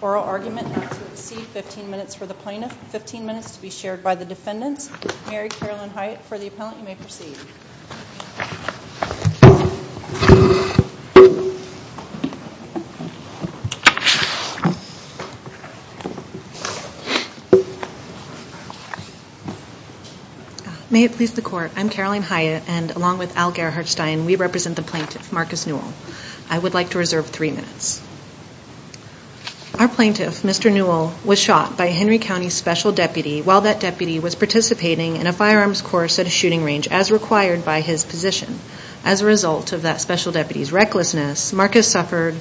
oral argument not to exceed 15 minutes for the plaintiff, 15 minutes to be shared by the defendants. Mary Carolyn Hyatt for the appellant, you may proceed. May it please the court, I'm Carolyn Hyatt and along with Al Gerhardstein, we represent the plaintiff, Marcus Newell. I would like to reserve three minutes. Our plaintiff, Mr. Newell, was shot by a Henry County special deputy while that deputy was participating in a firearms course at a shooting range as required by his position. As a result of that special deputy's recklessness, Marcus suffered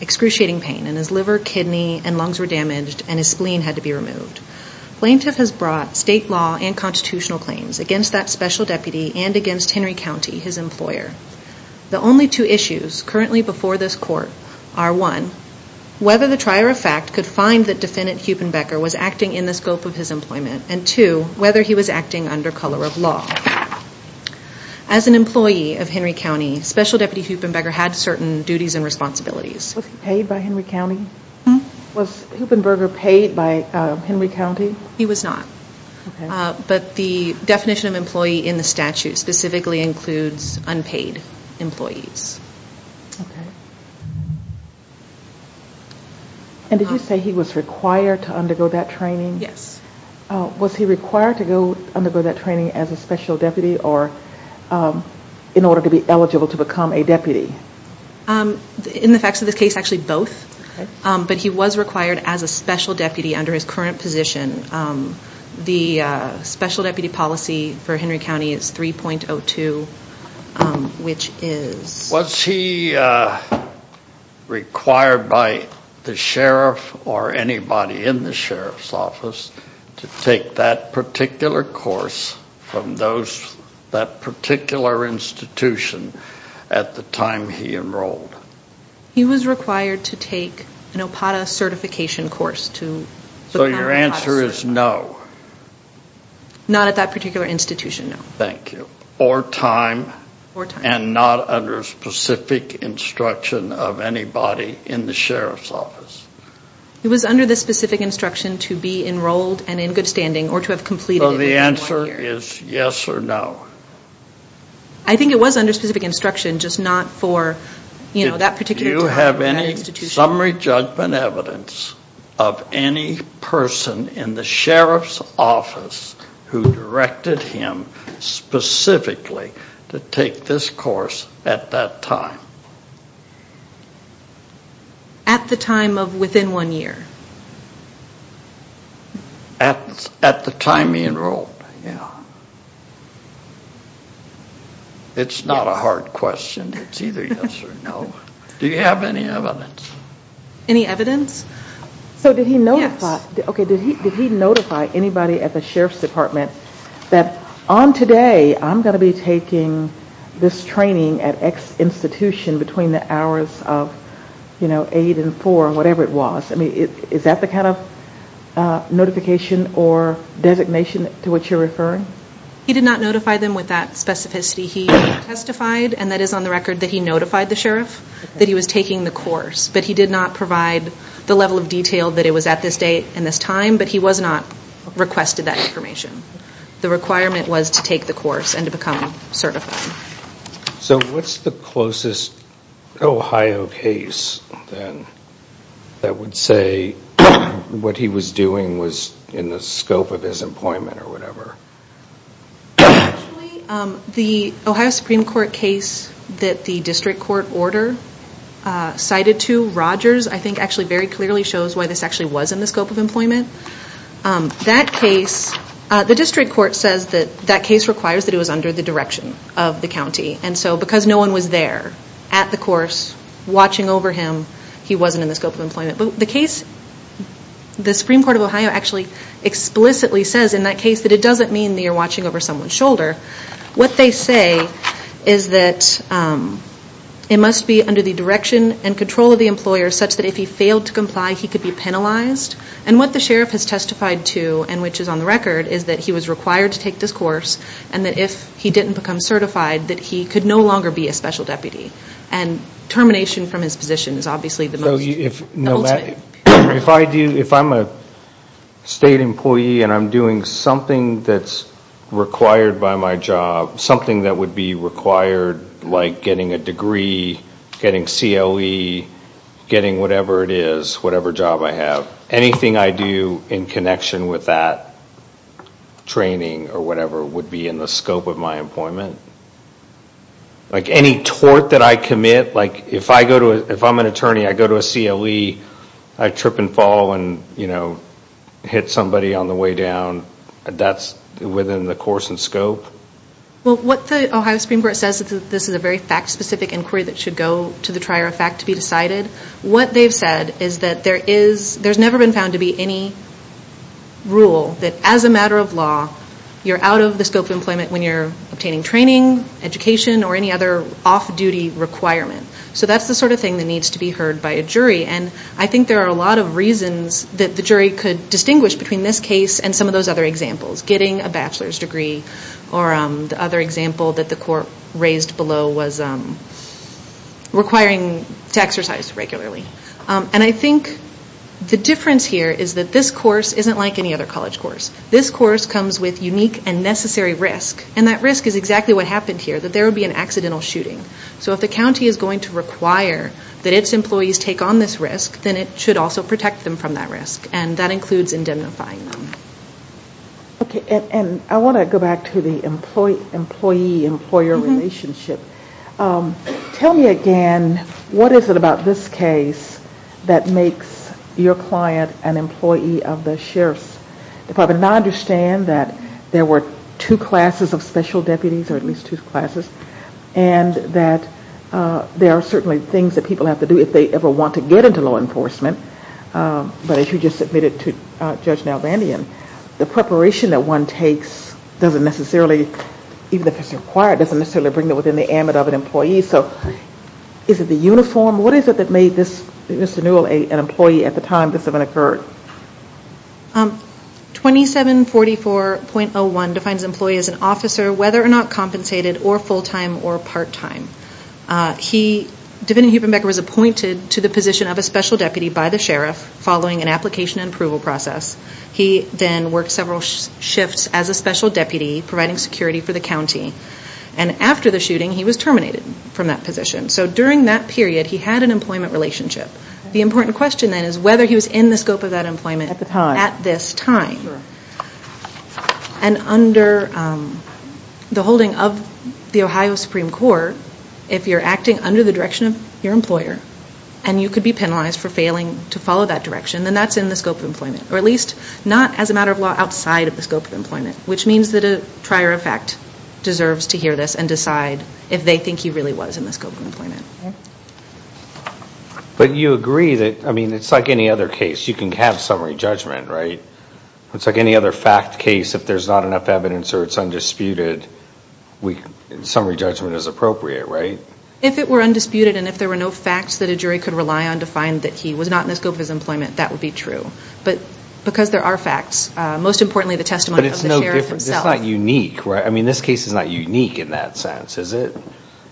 excruciating pain in his liver, kidney and lungs were damaged and his spleen had to be removed. Plaintiff has brought state law and constitutional claims against that special deputy and against Henry County, his employer. The only two issues currently before this court are one, whether the trier of fact could find that defendant Huepenbecker was acting in the scope of his employment and two, whether he was acting under color of law. As an employee of Henry County, special deputy Huepenbecker had certain duties and responsibilities. Was he paid by Henry County? Was Huepenbecker paid by Henry County? He was not. But the definition of employee in the statute specifically includes unpaid employees. And did you say he was required to undergo that training? Yes. Was he required to undergo that training as a special deputy or in order to be eligible to become a deputy? In the facts of this case, actually both. But he was required as a special deputy under his current position. The special deputy policy for Henry County is 3.02, which is... ...or anybody in the sheriff's office to take that particular course from that particular institution at the time he enrolled. He was required to take an OPATA certification course to... So your answer is no? Not at that particular institution, no. Thank you. ...and not under specific instruction of anybody in the sheriff's office? It was under the specific instruction to be enrolled and in good standing or to have completed... So the answer is yes or no? I think it was under specific instruction, just not for that particular time at that institution. Is there summary judgment evidence of any person in the sheriff's office who directed him specifically to take this course at that time? At the time of within one year? At the time he enrolled, yeah. It's not a hard question. It's either yes or no. Do you have any evidence? Any evidence? So did he notify anybody at the sheriff's department that on today I'm going to be taking this training at X institution between the hours of 8 and 4 or whatever it was? Is that the kind of notification or designation to which you're referring? He did not notify them with that specificity. He testified, and that is on the record that he notified the sheriff that he was taking the course, but he did not provide the level of detail that it was at this date and this time, but he was not requested that information. The requirement was to take the course and to become certified. So what's the closest Ohio case that would say what he was doing was in the scope of his employment or whatever? Actually, the Ohio Supreme Court case that the district court order cited to Rogers, I think, actually very clearly shows why this actually was in the scope of employment. That case, the district court says that that case requires that it was under the direction of the county, and so because no one was there at the course watching over him, he wasn't in the scope of employment. But the case, the Supreme Court of Ohio actually explicitly says in that case that it doesn't mean that you're watching over someone's shoulder. What they say is that it must be under the direction and control of the employer such that if he failed to comply, he could be penalized. And what the sheriff has testified to, and which is on the record, is that he was required to take this course and that if he didn't become certified, that he could no longer be a special deputy. And termination from his position is obviously the ultimate. If I'm a state employee and I'm doing something that's required by my job, something that would be required like getting a degree, getting CLE, getting whatever it is, whatever job I have, anything I do in connection with that training or whatever would be in the scope of my employment. Like any tort that I commit, like if I'm an attorney, I go to a CLE, I trip and fall and hit somebody on the way down, that's within the course and scope. Well, what the Ohio Supreme Court says is that this is a very fact-specific inquiry that should go to the trier of fact to be decided. What they've said is that there's never been found to be any rule that as a matter of law, you're out of the scope of employment when you're obtaining training, education, or any other off-duty requirement. So that's the sort of thing that needs to be heard by a jury. And I think there are a lot of reasons that the jury could distinguish between this case and some of those other examples, getting a bachelor's degree or the other example that the court raised below was requiring to exercise regularly. And I think the difference here is that this course isn't like any other college course. This course comes with unique and necessary risk, and that risk is exactly what happened here, that there would be an accidental shooting. So if the county is going to require that its employees take on this risk, then it should also protect them from that risk, and that includes indemnifying them. Okay, and I want to go back to the employee-employer relationship. Tell me again, what is it about this case that makes your client an employee of the sheriff's? If I would not understand that there were two classes of special deputies, or at least two classes, and that there are certainly things that people have to do if they ever want to get into law enforcement, but as you just admitted to Judge Nalvandian, the preparation that one takes doesn't necessarily, even if it's required, doesn't necessarily bring them within the ambit of an employee. So is it the uniform? What is it that made Mr. Newell an employee at the time this event occurred? 2744.01 defines an employee as an officer, whether or not compensated, or full-time, or part-time. He, Devin Huebenbecker, was appointed to the position of a special deputy by the sheriff, following an application and approval process. He then worked several shifts as a special deputy, providing security for the county. And after the shooting, he was terminated from that position. So during that period, he had an employment relationship. The important question then is whether he was in the scope of that employment at this time. And under the holding of the Ohio Supreme Court, if you're acting under the direction of your employer, and you could be penalized for failing to follow that direction, then that's in the scope of employment, or at least not as a matter of law outside of the scope of employment, which means that a prior effect deserves to hear this and decide if they think he really was in the scope of employment. But you agree that, I mean, it's like any other case. You can have summary judgment, right? It's like any other fact case. If there's not enough evidence or it's undisputed, summary judgment is appropriate, right? If it were undisputed and if there were no facts that a jury could rely on to find that he was not in the scope of his employment, that would be true. But because there are facts, most importantly the testimony of the sheriff himself. But it's not unique, right? I mean, this case is not unique in that sense, is it?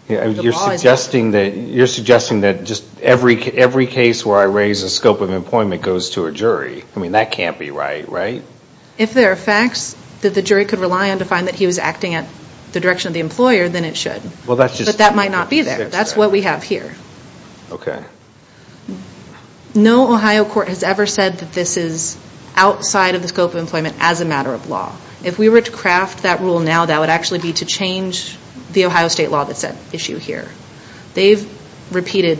You're suggesting that just every case where I raise the scope of employment goes to a jury. I mean, that can't be right, right? If there are facts that the jury could rely on to find that he was acting at the direction of the employer, then it should. But that might not be there. That's what we have here. Okay. No Ohio court has ever said that this is outside of the scope of employment as a matter of law. If we were to craft that rule now, that would actually be to change the Ohio state law that's at issue here. They've repeated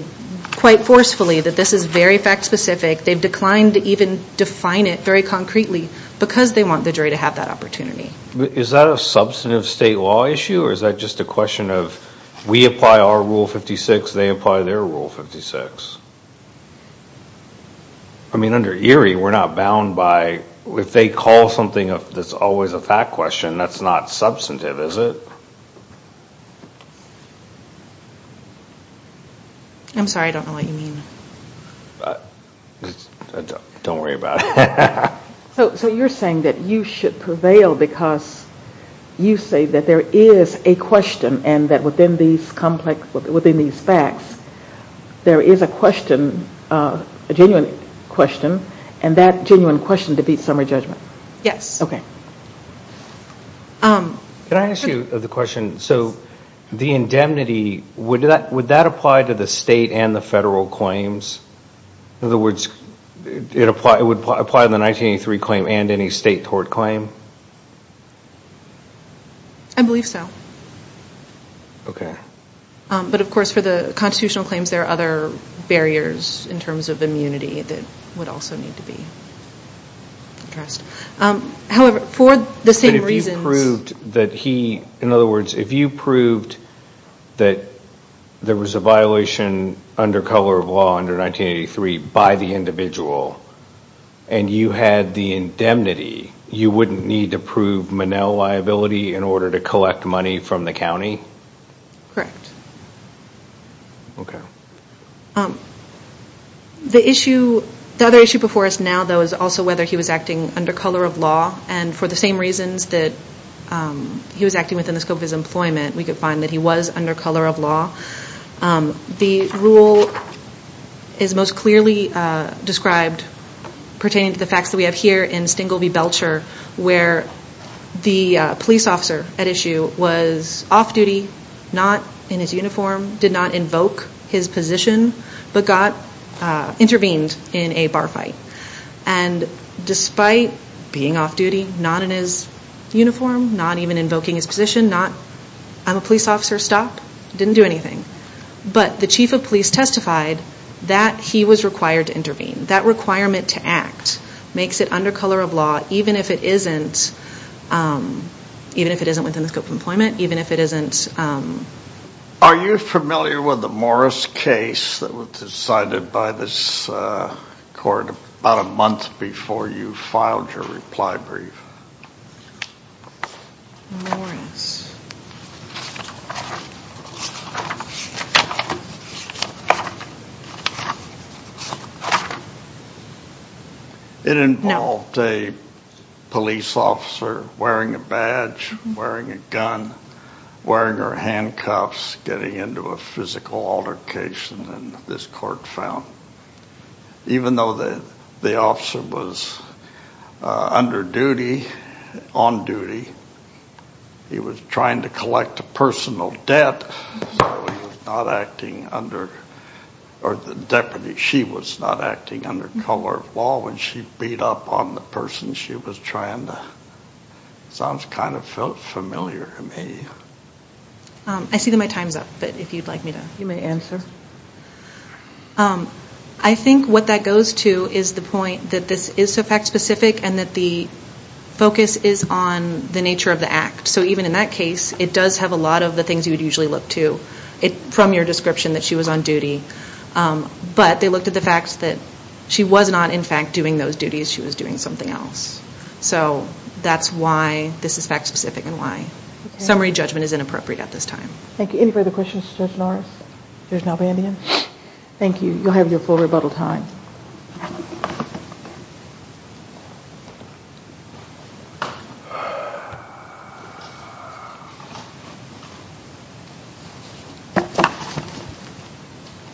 quite forcefully that this is very fact-specific. They've declined to even define it very concretely because they want the jury to have that opportunity. Is that a substantive state law issue or is that just a question of we apply our Rule 56, they apply their Rule 56? I mean, under ERIE, we're not bound by if they call something that's always a fact question, that's not substantive, is it? I'm sorry. I don't know what you mean. Don't worry about it. So you're saying that you should prevail because you say that there is a question and that within these facts, there is a question, a genuine question, and that genuine question defeats summary judgment? Yes. Okay. Can I ask you the question? So the indemnity, would that apply to the state and the federal claims? In other words, it would apply to the 1983 claim and any state tort claim? I believe so. Okay. But, of course, for the constitutional claims, there are other barriers in terms of immunity that would also need to be addressed. However, for the same reasons – But if you proved that he – in other words, if you proved that there was a violation under color of law under 1983 by the individual and you had the indemnity, you wouldn't need to prove Monell liability in order to collect money from the county? Correct. Okay. The issue – the other issue before us now, though, is also whether he was acting under color of law, and for the same reasons that he was acting within the scope of his employment, we could find that he was under color of law. The rule is most clearly described pertaining to the facts that we have here in Stengel v. Belcher, where the police officer at issue was off duty, not in his uniform, did not invoke his position, but intervened in a bar fight. And despite being off duty, not in his uniform, not even invoking his position, I'm a police officer, stop, didn't do anything. But the chief of police testified that he was required to intervene. That requirement to act makes it under color of law, even if it isn't within the scope of employment, even if it isn't – Are you familiar with the Morris case that was decided by this court about a month before you filed your reply brief? Morris. It involved a police officer wearing a badge, wearing a gun, wearing her handcuffs, getting into a physical altercation, and this court found, even though the officer was under duty, on duty, he was trying to collect a personal debt, so he was not acting under – or the deputy, she was not acting under color of law when she beat up on the person she was trying to – sounds kind of familiar to me. I see that my time's up, but if you'd like me to – You may answer. I think what that goes to is the point that this is so fact-specific and that the focus is on the nature of the act. So even in that case, it does have a lot of the things you would usually look to from your description that she was on duty, but they looked at the fact that she was not, in fact, doing those duties. She was doing something else. So that's why this is fact-specific and why summary judgment is inappropriate at this time. Thank you. Any further questions for Judge Morris? There's no band-aid? Thank you. You'll have your full rebuttal time.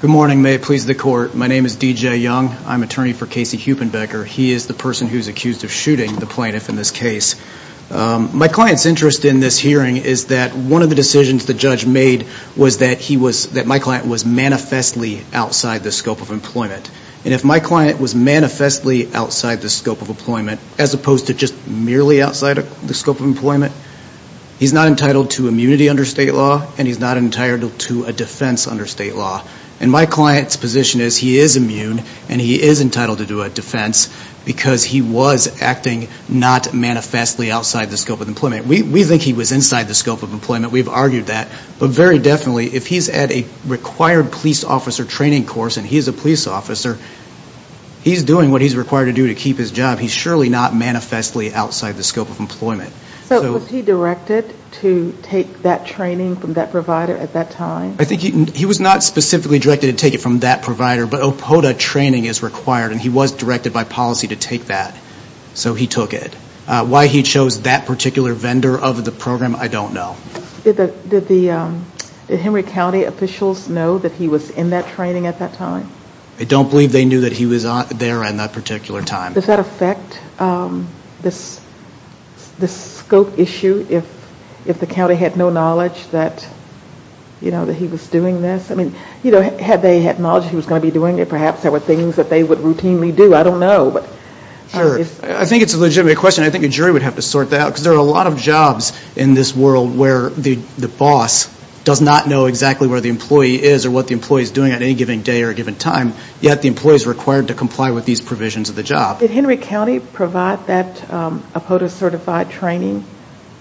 Good morning. May it please the Court. My name is D.J. Young. I'm attorney for Casey Huppenbecker. He is the person who is accused of shooting the plaintiff in this case. My client's interest in this hearing is that one of the decisions the judge made was that my client was manifestly outside the scope of employment, and if my client was manifestly outside the scope of employment as opposed to just merely outside the scope of employment, he's not entitled to immunity under state law, and he's not entitled to a defense under state law, and my client's position is he is immune, and he is entitled to a defense because he was acting not manifestly outside the scope of employment. We think he was inside the scope of employment. We've argued that, but very definitely, if he's at a required police officer training course and he's a police officer, he's doing what he's required to do to keep his job. He's surely not manifestly outside the scope of employment. So was he directed to take that training from that provider at that time? I think he was not specifically directed to take it from that provider, but OPOTA training is required, and he was directed by policy to take that, so he took it. Why he chose that particular vendor of the program, I don't know. Did Henry County officials know that he was in that training at that time? I don't believe they knew that he was there in that particular time. Does that affect the scope issue if the county had no knowledge that he was doing this? Had they had knowledge he was going to be doing it, perhaps there were things that they would routinely do. I don't know. I think it's a legitimate question. I think a jury would have to sort that out, because there are a lot of jobs in this world where the boss does not know exactly where the employee is or what the employee is doing at any given day or given time, yet the employee is required to comply with these provisions of the job. Did Henry County provide that OPOTA-certified training?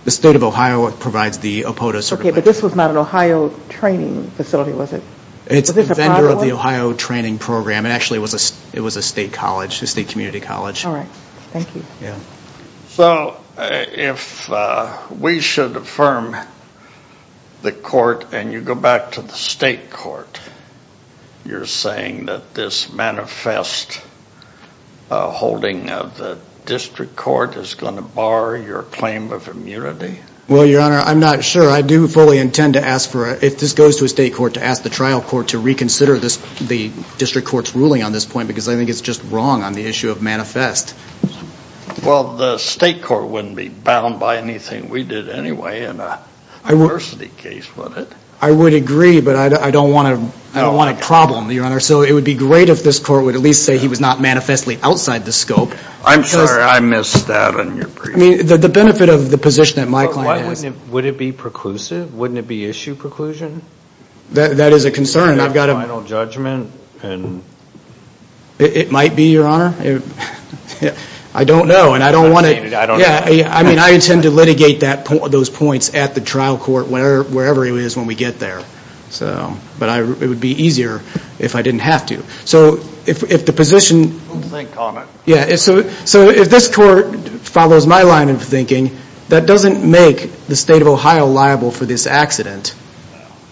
The state of Ohio provides the OPOTA certification. Okay, but this was not an Ohio training facility, was it? It's a vendor of the Ohio training program. Actually, it was a state community college. All right. Thank you. So if we should affirm the court and you go back to the state court, you're saying that this manifest holding of the district court is going to bar your claim of immunity? Well, Your Honor, I'm not sure. I do fully intend to ask for, if this goes to a state court, to ask the trial court to reconsider the district court's ruling on this point, because I think it's just wrong on the issue of manifest. Well, the state court wouldn't be bound by anything we did anyway in a diversity case, would it? I would agree, but I don't want a problem, Your Honor. So it would be great if this court would at least say he was not manifestly outside the scope. I'm sorry. I missed that on your brief. The benefit of the position that my client has— Would it be preclusive? Wouldn't it be issue preclusion? That is a concern. Final judgment and— It might be, Your Honor. I don't know, and I don't want to— I mean, I intend to litigate those points at the trial court, wherever it is when we get there. But it would be easier if I didn't have to. So if the position— Think on it. Yeah, so if this court follows my line of thinking, that doesn't make the state of Ohio liable for this accident,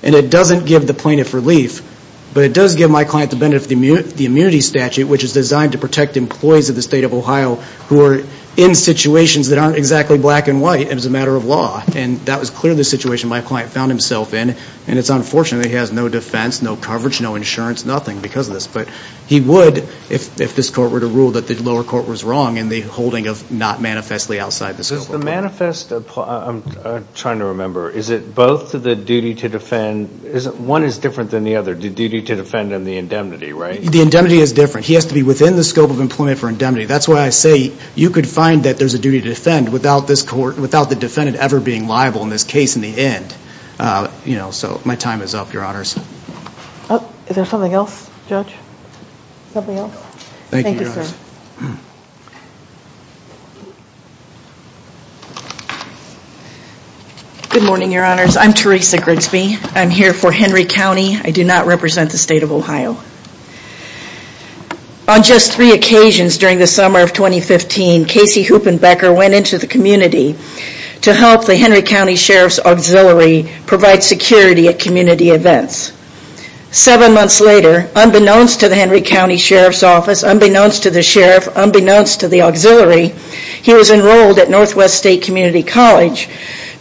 and it doesn't give the plaintiff relief, but it does give my client the benefit of the immunity statute, which is designed to protect employees of the state of Ohio who are in situations that aren't exactly black and white as a matter of law. And that was clearly the situation my client found himself in, and it's unfortunate that he has no defense, no coverage, no insurance, nothing because of this. But he would, if this court were to rule that the lower court was wrong in the holding of not manifestly outside the scope of— Is the manifest—I'm trying to remember. Is it both the duty to defend—one is different than the other, the duty to defend and the indemnity, right? The indemnity is different. He has to be within the scope of employment for indemnity. That's why I say you could find that there's a duty to defend without the defendant ever being liable in this case in the end. So my time is up, Your Honors. Is there something else, Judge? Something else? Thank you, Your Honors. Thank you, sir. Good morning, Your Honors. I'm Teresa Grigsby. I'm here for Henry County. I do not represent the state of Ohio. On just three occasions during the summer of 2015, Casey Huppenbecker went into the community to help the Henry County Sheriff's Auxiliary provide security at community events. Seven months later, unbeknownst to the Henry County Sheriff's Office, unbeknownst to the Sheriff, unbeknownst to the Auxiliary, he was enrolled at Northwest State Community College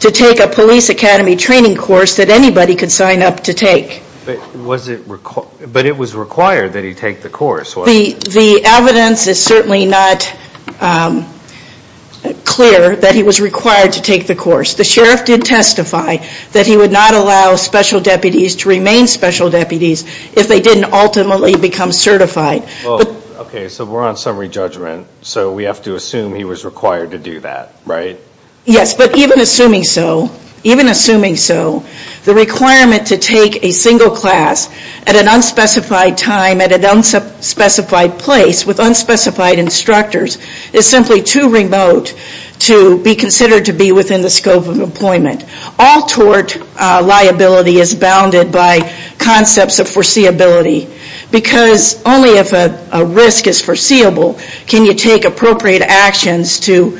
to take a police academy training course that anybody could sign up to take. But was it—but it was required that he take the course, wasn't it? The evidence is certainly not clear that he was required to take the course. The Sheriff did testify that he would not allow special deputies to remain special deputies if they didn't ultimately become certified. Okay, so we're on summary judgment, so we have to assume he was required to do that, right? Yes, but even assuming so, even assuming so, the requirement to take a single class at an unspecified time, at an unspecified place, with unspecified instructors, is simply too remote to be considered to be within the scope of employment. All tort liability is bounded by concepts of foreseeability because only if a risk is foreseeable can you take appropriate actions to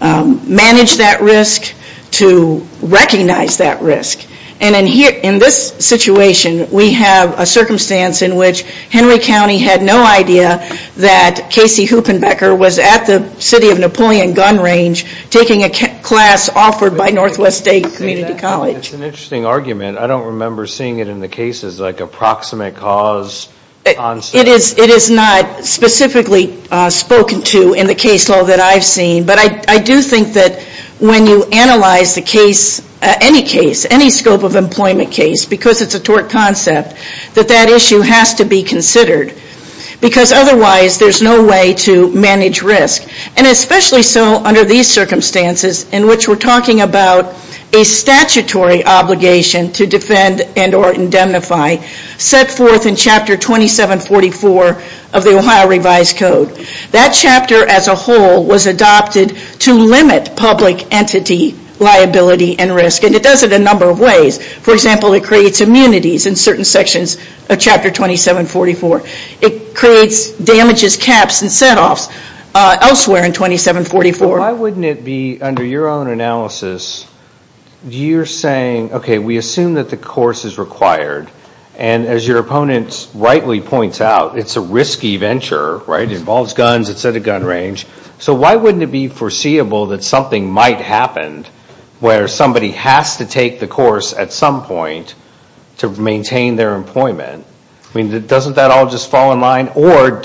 manage that risk, to recognize that risk. And in this situation, we have a circumstance in which Henry County had no idea that Casey Hoopenbecker was at the city of Napoleon gun range taking a class offered by Northwest State Community College. It's an interesting argument. I don't remember seeing it in the cases, like approximate cause. It is not specifically spoken to in the case law that I've seen, but I do think that when you analyze the case, any case, any scope of employment case, because it's a tort concept, that that issue has to be considered because otherwise there's no way to manage risk. And especially so under these circumstances in which we're talking about a statutory obligation to defend and or indemnify set forth in Chapter 2744 of the Ohio Revised Code. That chapter as a whole was adopted to limit public entity liability and risk. And it does it in a number of ways. For example, it creates immunities in certain sections of Chapter 2744. It creates damages caps and set offs elsewhere in 2744. Why wouldn't it be under your own analysis, you're saying, okay, we assume that the course is required. And as your opponent rightly points out, it's a risky venture, right, which involves guns, it's at a gun range. So why wouldn't it be foreseeable that something might happen where somebody has to take the course at some point to maintain their employment? I mean, doesn't that all just fall in line? Or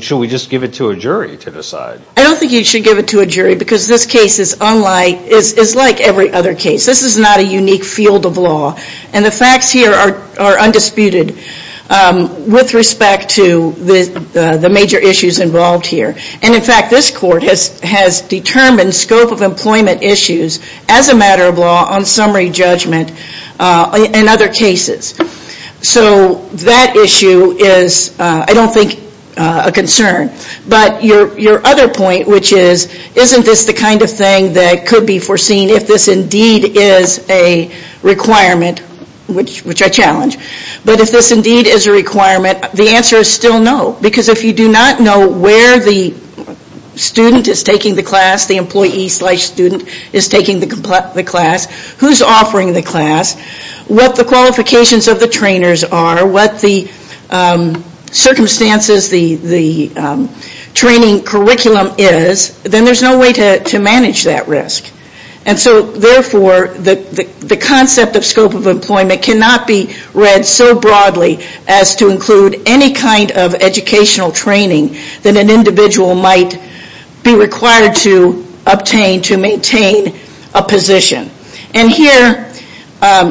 should we just give it to a jury to decide? I don't think you should give it to a jury because this case is unlike, is like every other case. This is not a unique field of law. And the facts here are undisputed with respect to the major issues involved here. And, in fact, this court has determined scope of employment issues as a matter of law on summary judgment in other cases. So that issue is, I don't think, a concern. But your other point, which is, isn't this the kind of thing that could be foreseen if this indeed is a requirement, which I challenge. But if this indeed is a requirement, the answer is still no. Because if you do not know where the student is taking the class, the employee slash student is taking the class, who's offering the class, what the qualifications of the trainers are, what the circumstances, the training curriculum is, then there's no way to manage that risk. And so, therefore, the concept of scope of employment cannot be read so broadly as to include any kind of educational training that an individual might be required to obtain to maintain a position. And here,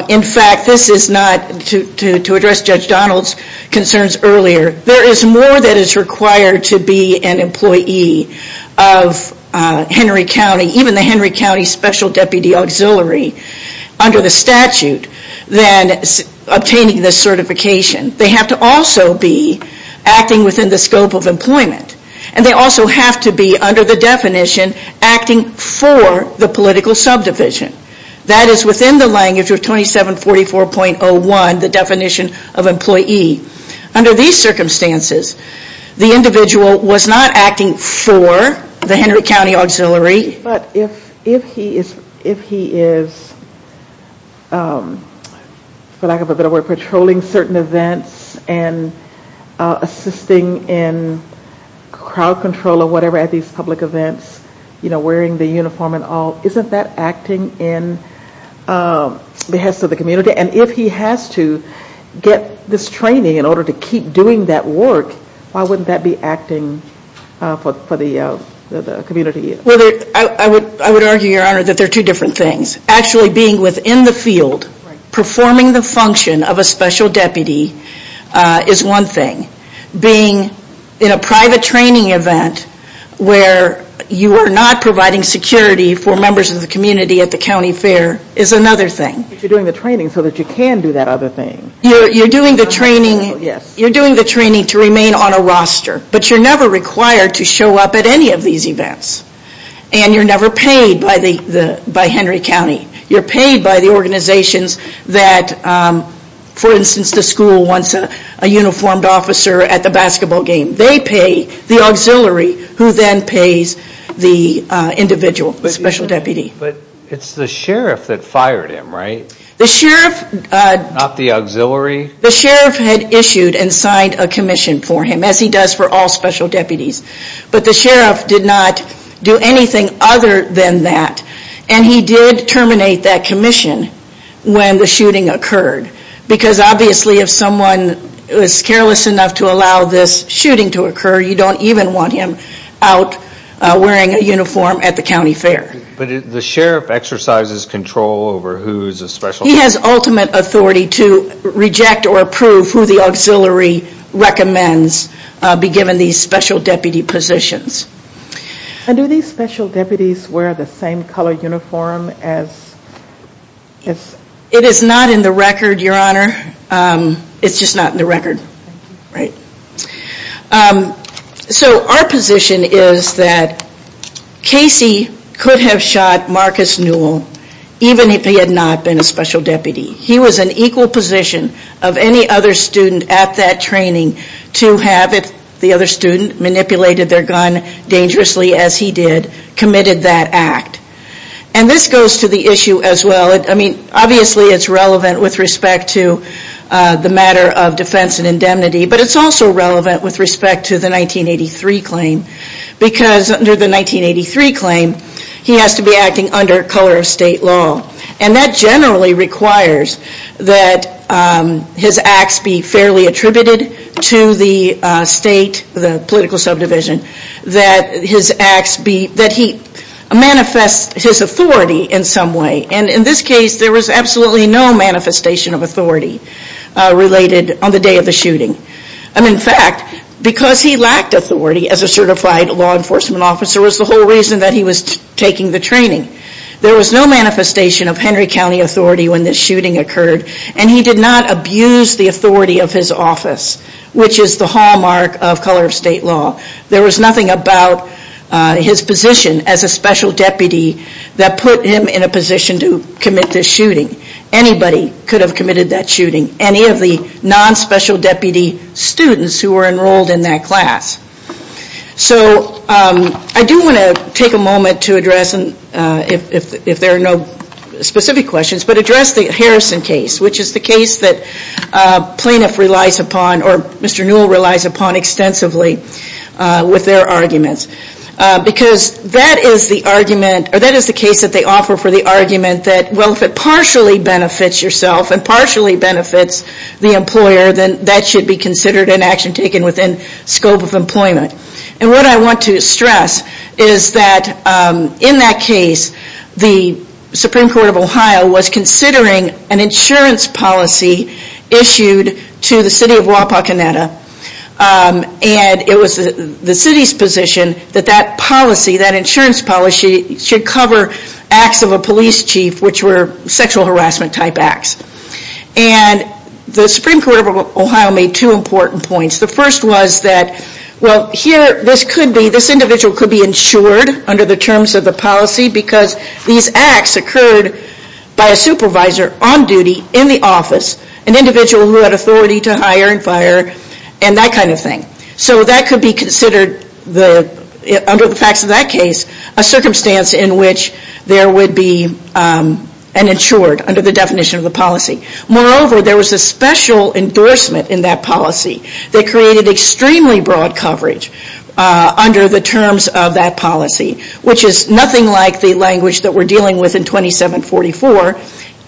in fact, this is not, to address Judge Donald's concerns earlier, there is more that is required to be an employee of Henry County, even the Henry County Special Deputy Auxiliary, under the statute, than obtaining this certification. They have to also be acting within the scope of employment. And they also have to be, under the definition, acting for the political subdivision. That is within the language of 2744.01, the definition of employee. Under these circumstances, the individual was not acting for the Henry County Auxiliary, but if he is, for lack of a better word, patrolling certain events and assisting in crowd control or whatever at these public events, you know, wearing the uniform and all, isn't that acting in behest of the community? And if he has to get this training in order to keep doing that work, why wouldn't that be acting for the community? Well, I would argue, Your Honor, that they're two different things. Actually being within the field, performing the function of a special deputy is one thing. Being in a private training event where you are not providing security for members of the community at the county fair is another thing. But you're doing the training so that you can do that other thing. You're doing the training to remain on a roster, but you're never required to show up at any of these events. And you're never paid by Henry County. You're paid by the organizations that, for instance, the school wants a uniformed officer at the basketball game. They pay the auxiliary who then pays the individual special deputy. But it's the sheriff that fired him, right? The sheriff... Not the auxiliary? The sheriff had issued and signed a commission for him, as he does for all special deputies. But the sheriff did not do anything other than that. And he did terminate that commission when the shooting occurred. Because obviously if someone is careless enough to allow this shooting to occur, you don't even want him out wearing a uniform at the county fair. But the sheriff exercises control over who's a special... He has ultimate authority to reject or approve who the auxiliary recommends be given these special deputy positions. And do these special deputies wear the same color uniform as... It is not in the record, Your Honor. It's just not in the record. So our position is that Casey could have shot Marcus Newell even if he had not been a special deputy. He was in equal position of any other student at that training to have the other student manipulated their gun dangerously as he did, committed that act. And this goes to the issue as well. I mean, obviously it's relevant with respect to the matter of defense and indemnity, but it's also relevant with respect to the 1983 claim. Because under the 1983 claim, he has to be acting under color of state law. And that generally requires that his acts be fairly attributed to the state, the political subdivision, that he manifest his authority in some way. And in this case, there was absolutely no manifestation of authority related on the day of the shooting. In fact, because he lacked authority as a certified law enforcement officer was the whole reason that he was taking the training. There was no manifestation of Henry County authority when this shooting occurred, and he did not abuse the authority of his office, which is the hallmark of color of state law. There was nothing about his position as a special deputy that put him in a position to commit this shooting. Anybody could have committed that shooting. Any of the non-special deputy students who were enrolled in that class. So I do want to take a moment to address, if there are no specific questions, but address the Harrison case, which is the case that plaintiff relies upon or Mr. Newell relies upon extensively with their arguments. Because that is the argument, or that is the case that they offer for the argument that, well, if it partially benefits yourself and partially benefits the employer, then that should be considered an action taken within scope of employment. And what I want to stress is that in that case, the Supreme Court of Ohio was considering an insurance policy issued to the city of Wapakoneta. And it was the city's position that that policy, that insurance policy, should cover acts of a police chief, which were sexual harassment type acts. And the Supreme Court of Ohio made two important points. The first was that, well, here, this individual could be insured under the terms of the policy because these acts occurred by a supervisor on duty in the office, an individual who had authority to hire and fire and that kind of thing. So that could be considered, under the facts of that case, a circumstance in which there would be an insured under the definition of the policy. Moreover, there was a special endorsement in that policy that created extremely broad coverage under the terms of that policy, which is nothing like the language that we're dealing with in 2744.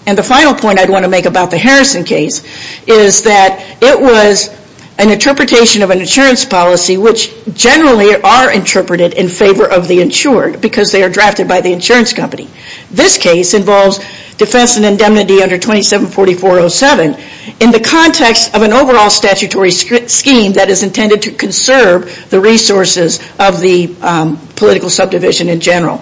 And the final point I'd want to make about the Harrison case is that it was an interpretation of an insurance policy, which generally are interpreted in favor of the insured because they are drafted by the insurance company. This case involves defense and indemnity under 2744.07 in the context of an overall statutory scheme that is intended to conserve the resources of the political subdivision in general.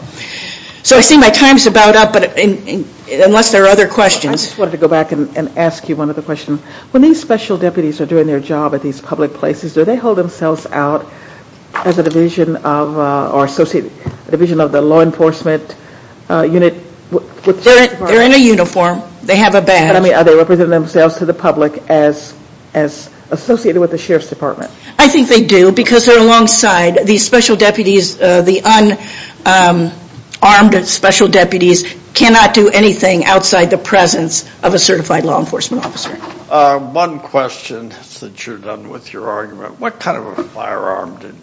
So I see my time's about up, unless there are other questions. I just wanted to go back and ask you one other question. When these special deputies are doing their job at these public places, do they hold themselves out as a division of the law enforcement unit? They're in a uniform. They have a badge. I mean, are they representing themselves to the public as associated with the Sheriff's Department? I think they do because they're alongside these special deputies. The unarmed special deputies cannot do anything outside the presence of a certified law enforcement officer. One question since you're done with your argument. What kind of a firearm did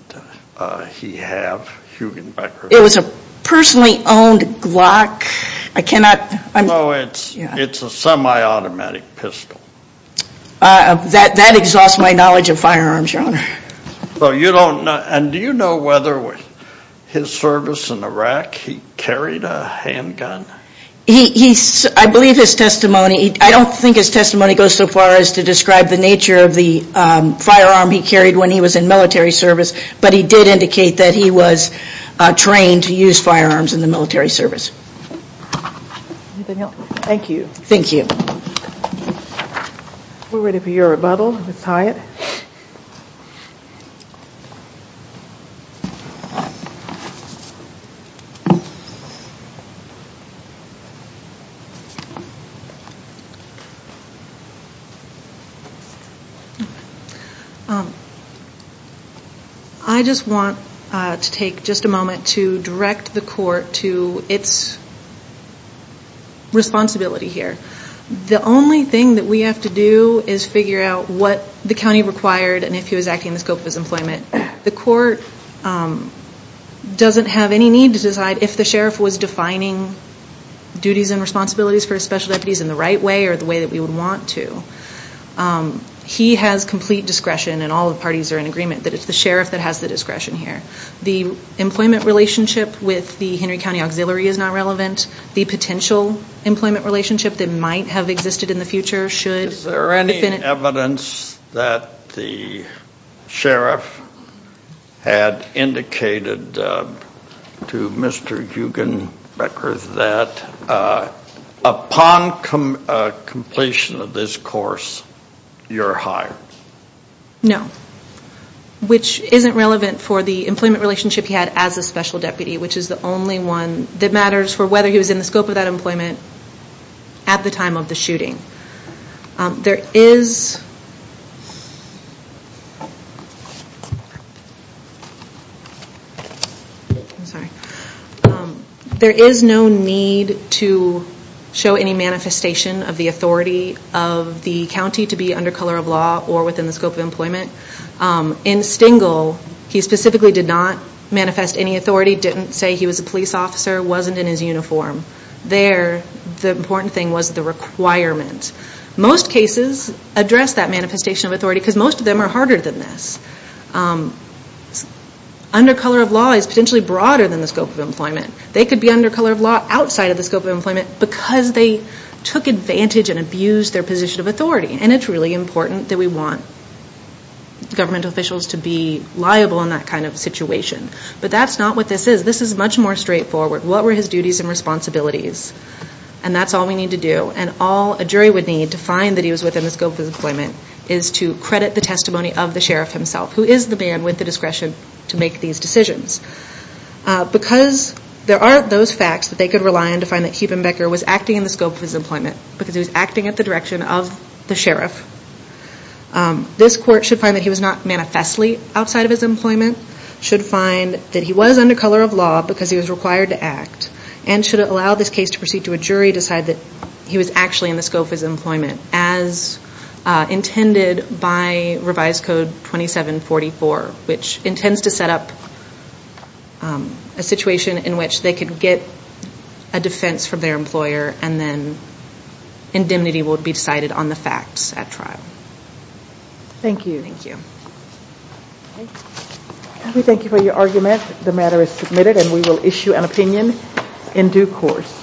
he have? It was a personally owned Glock. I cannot... No, it's a semi-automatic pistol. That exhausts my knowledge of firearms, Your Honor. And do you know whether with his service in Iraq he carried a handgun? I believe his testimony... I don't think his testimony goes so far as to describe the nature of the firearm he carried when he was in military service, but he did indicate that he was trained to use firearms in the military service. Anything else? Thank you. Thank you. We're ready for your rebuttal, Ms. Hyatt. Thank you. I just want to take just a moment to direct the court to its responsibility here. The only thing that we have to do is figure out what the county required and if he was acting in the scope of his employment. The court doesn't have any need to decide if the sheriff was defining duties and responsibilities for his special deputies in the right way or the way that we would want to. He has complete discretion, and all the parties are in agreement, that it's the sheriff that has the discretion here. The employment relationship with the Henry County Auxiliary is not relevant. The potential employment relationship that might have existed in the future should... Is there any evidence that the sheriff had indicated to Mr. Eugen Becker that upon completion of this course, you're hired? No. Which isn't relevant for the employment relationship he had as a special deputy, which is the only one that matters for whether he was in the scope of that employment at the time of the shooting. There is... There is no need to show any manifestation of the authority of the county to be under color of law or within the scope of employment. In Stengel, he specifically did not manifest any authority, didn't say he was a police officer, wasn't in his uniform. There, the important thing was the requirement. Most cases address that manifestation of authority, because most of them are harder than this. Under color of law is potentially broader than the scope of employment. They could be under color of law outside of the scope of employment because they took advantage and abused their position of authority. And it's really important that we want government officials to be liable in that kind of situation. But that's not what this is. This is much more straightforward. What were his duties and responsibilities? And that's all we need to do. And all a jury would need to find that he was within the scope of his employment is to credit the testimony of the sheriff himself, who is the man with the discretion to make these decisions. Because there are those facts that they could rely on to find that Heubenbecker was acting in the scope of his employment because he was acting at the direction of the sheriff. This court should find that he was not manifestly outside of his employment, should find that he was under color of law because he was required to act, and should allow this case to proceed to a jury to decide that he was actually in the scope of his employment as intended by Revised Code 2744, which intends to set up a situation in which they can get a defense from their employer and then indemnity will be decided on the facts at trial. Thank you. Thank you. We thank you for your argument. The matter is submitted and we will issue an opinion in due course.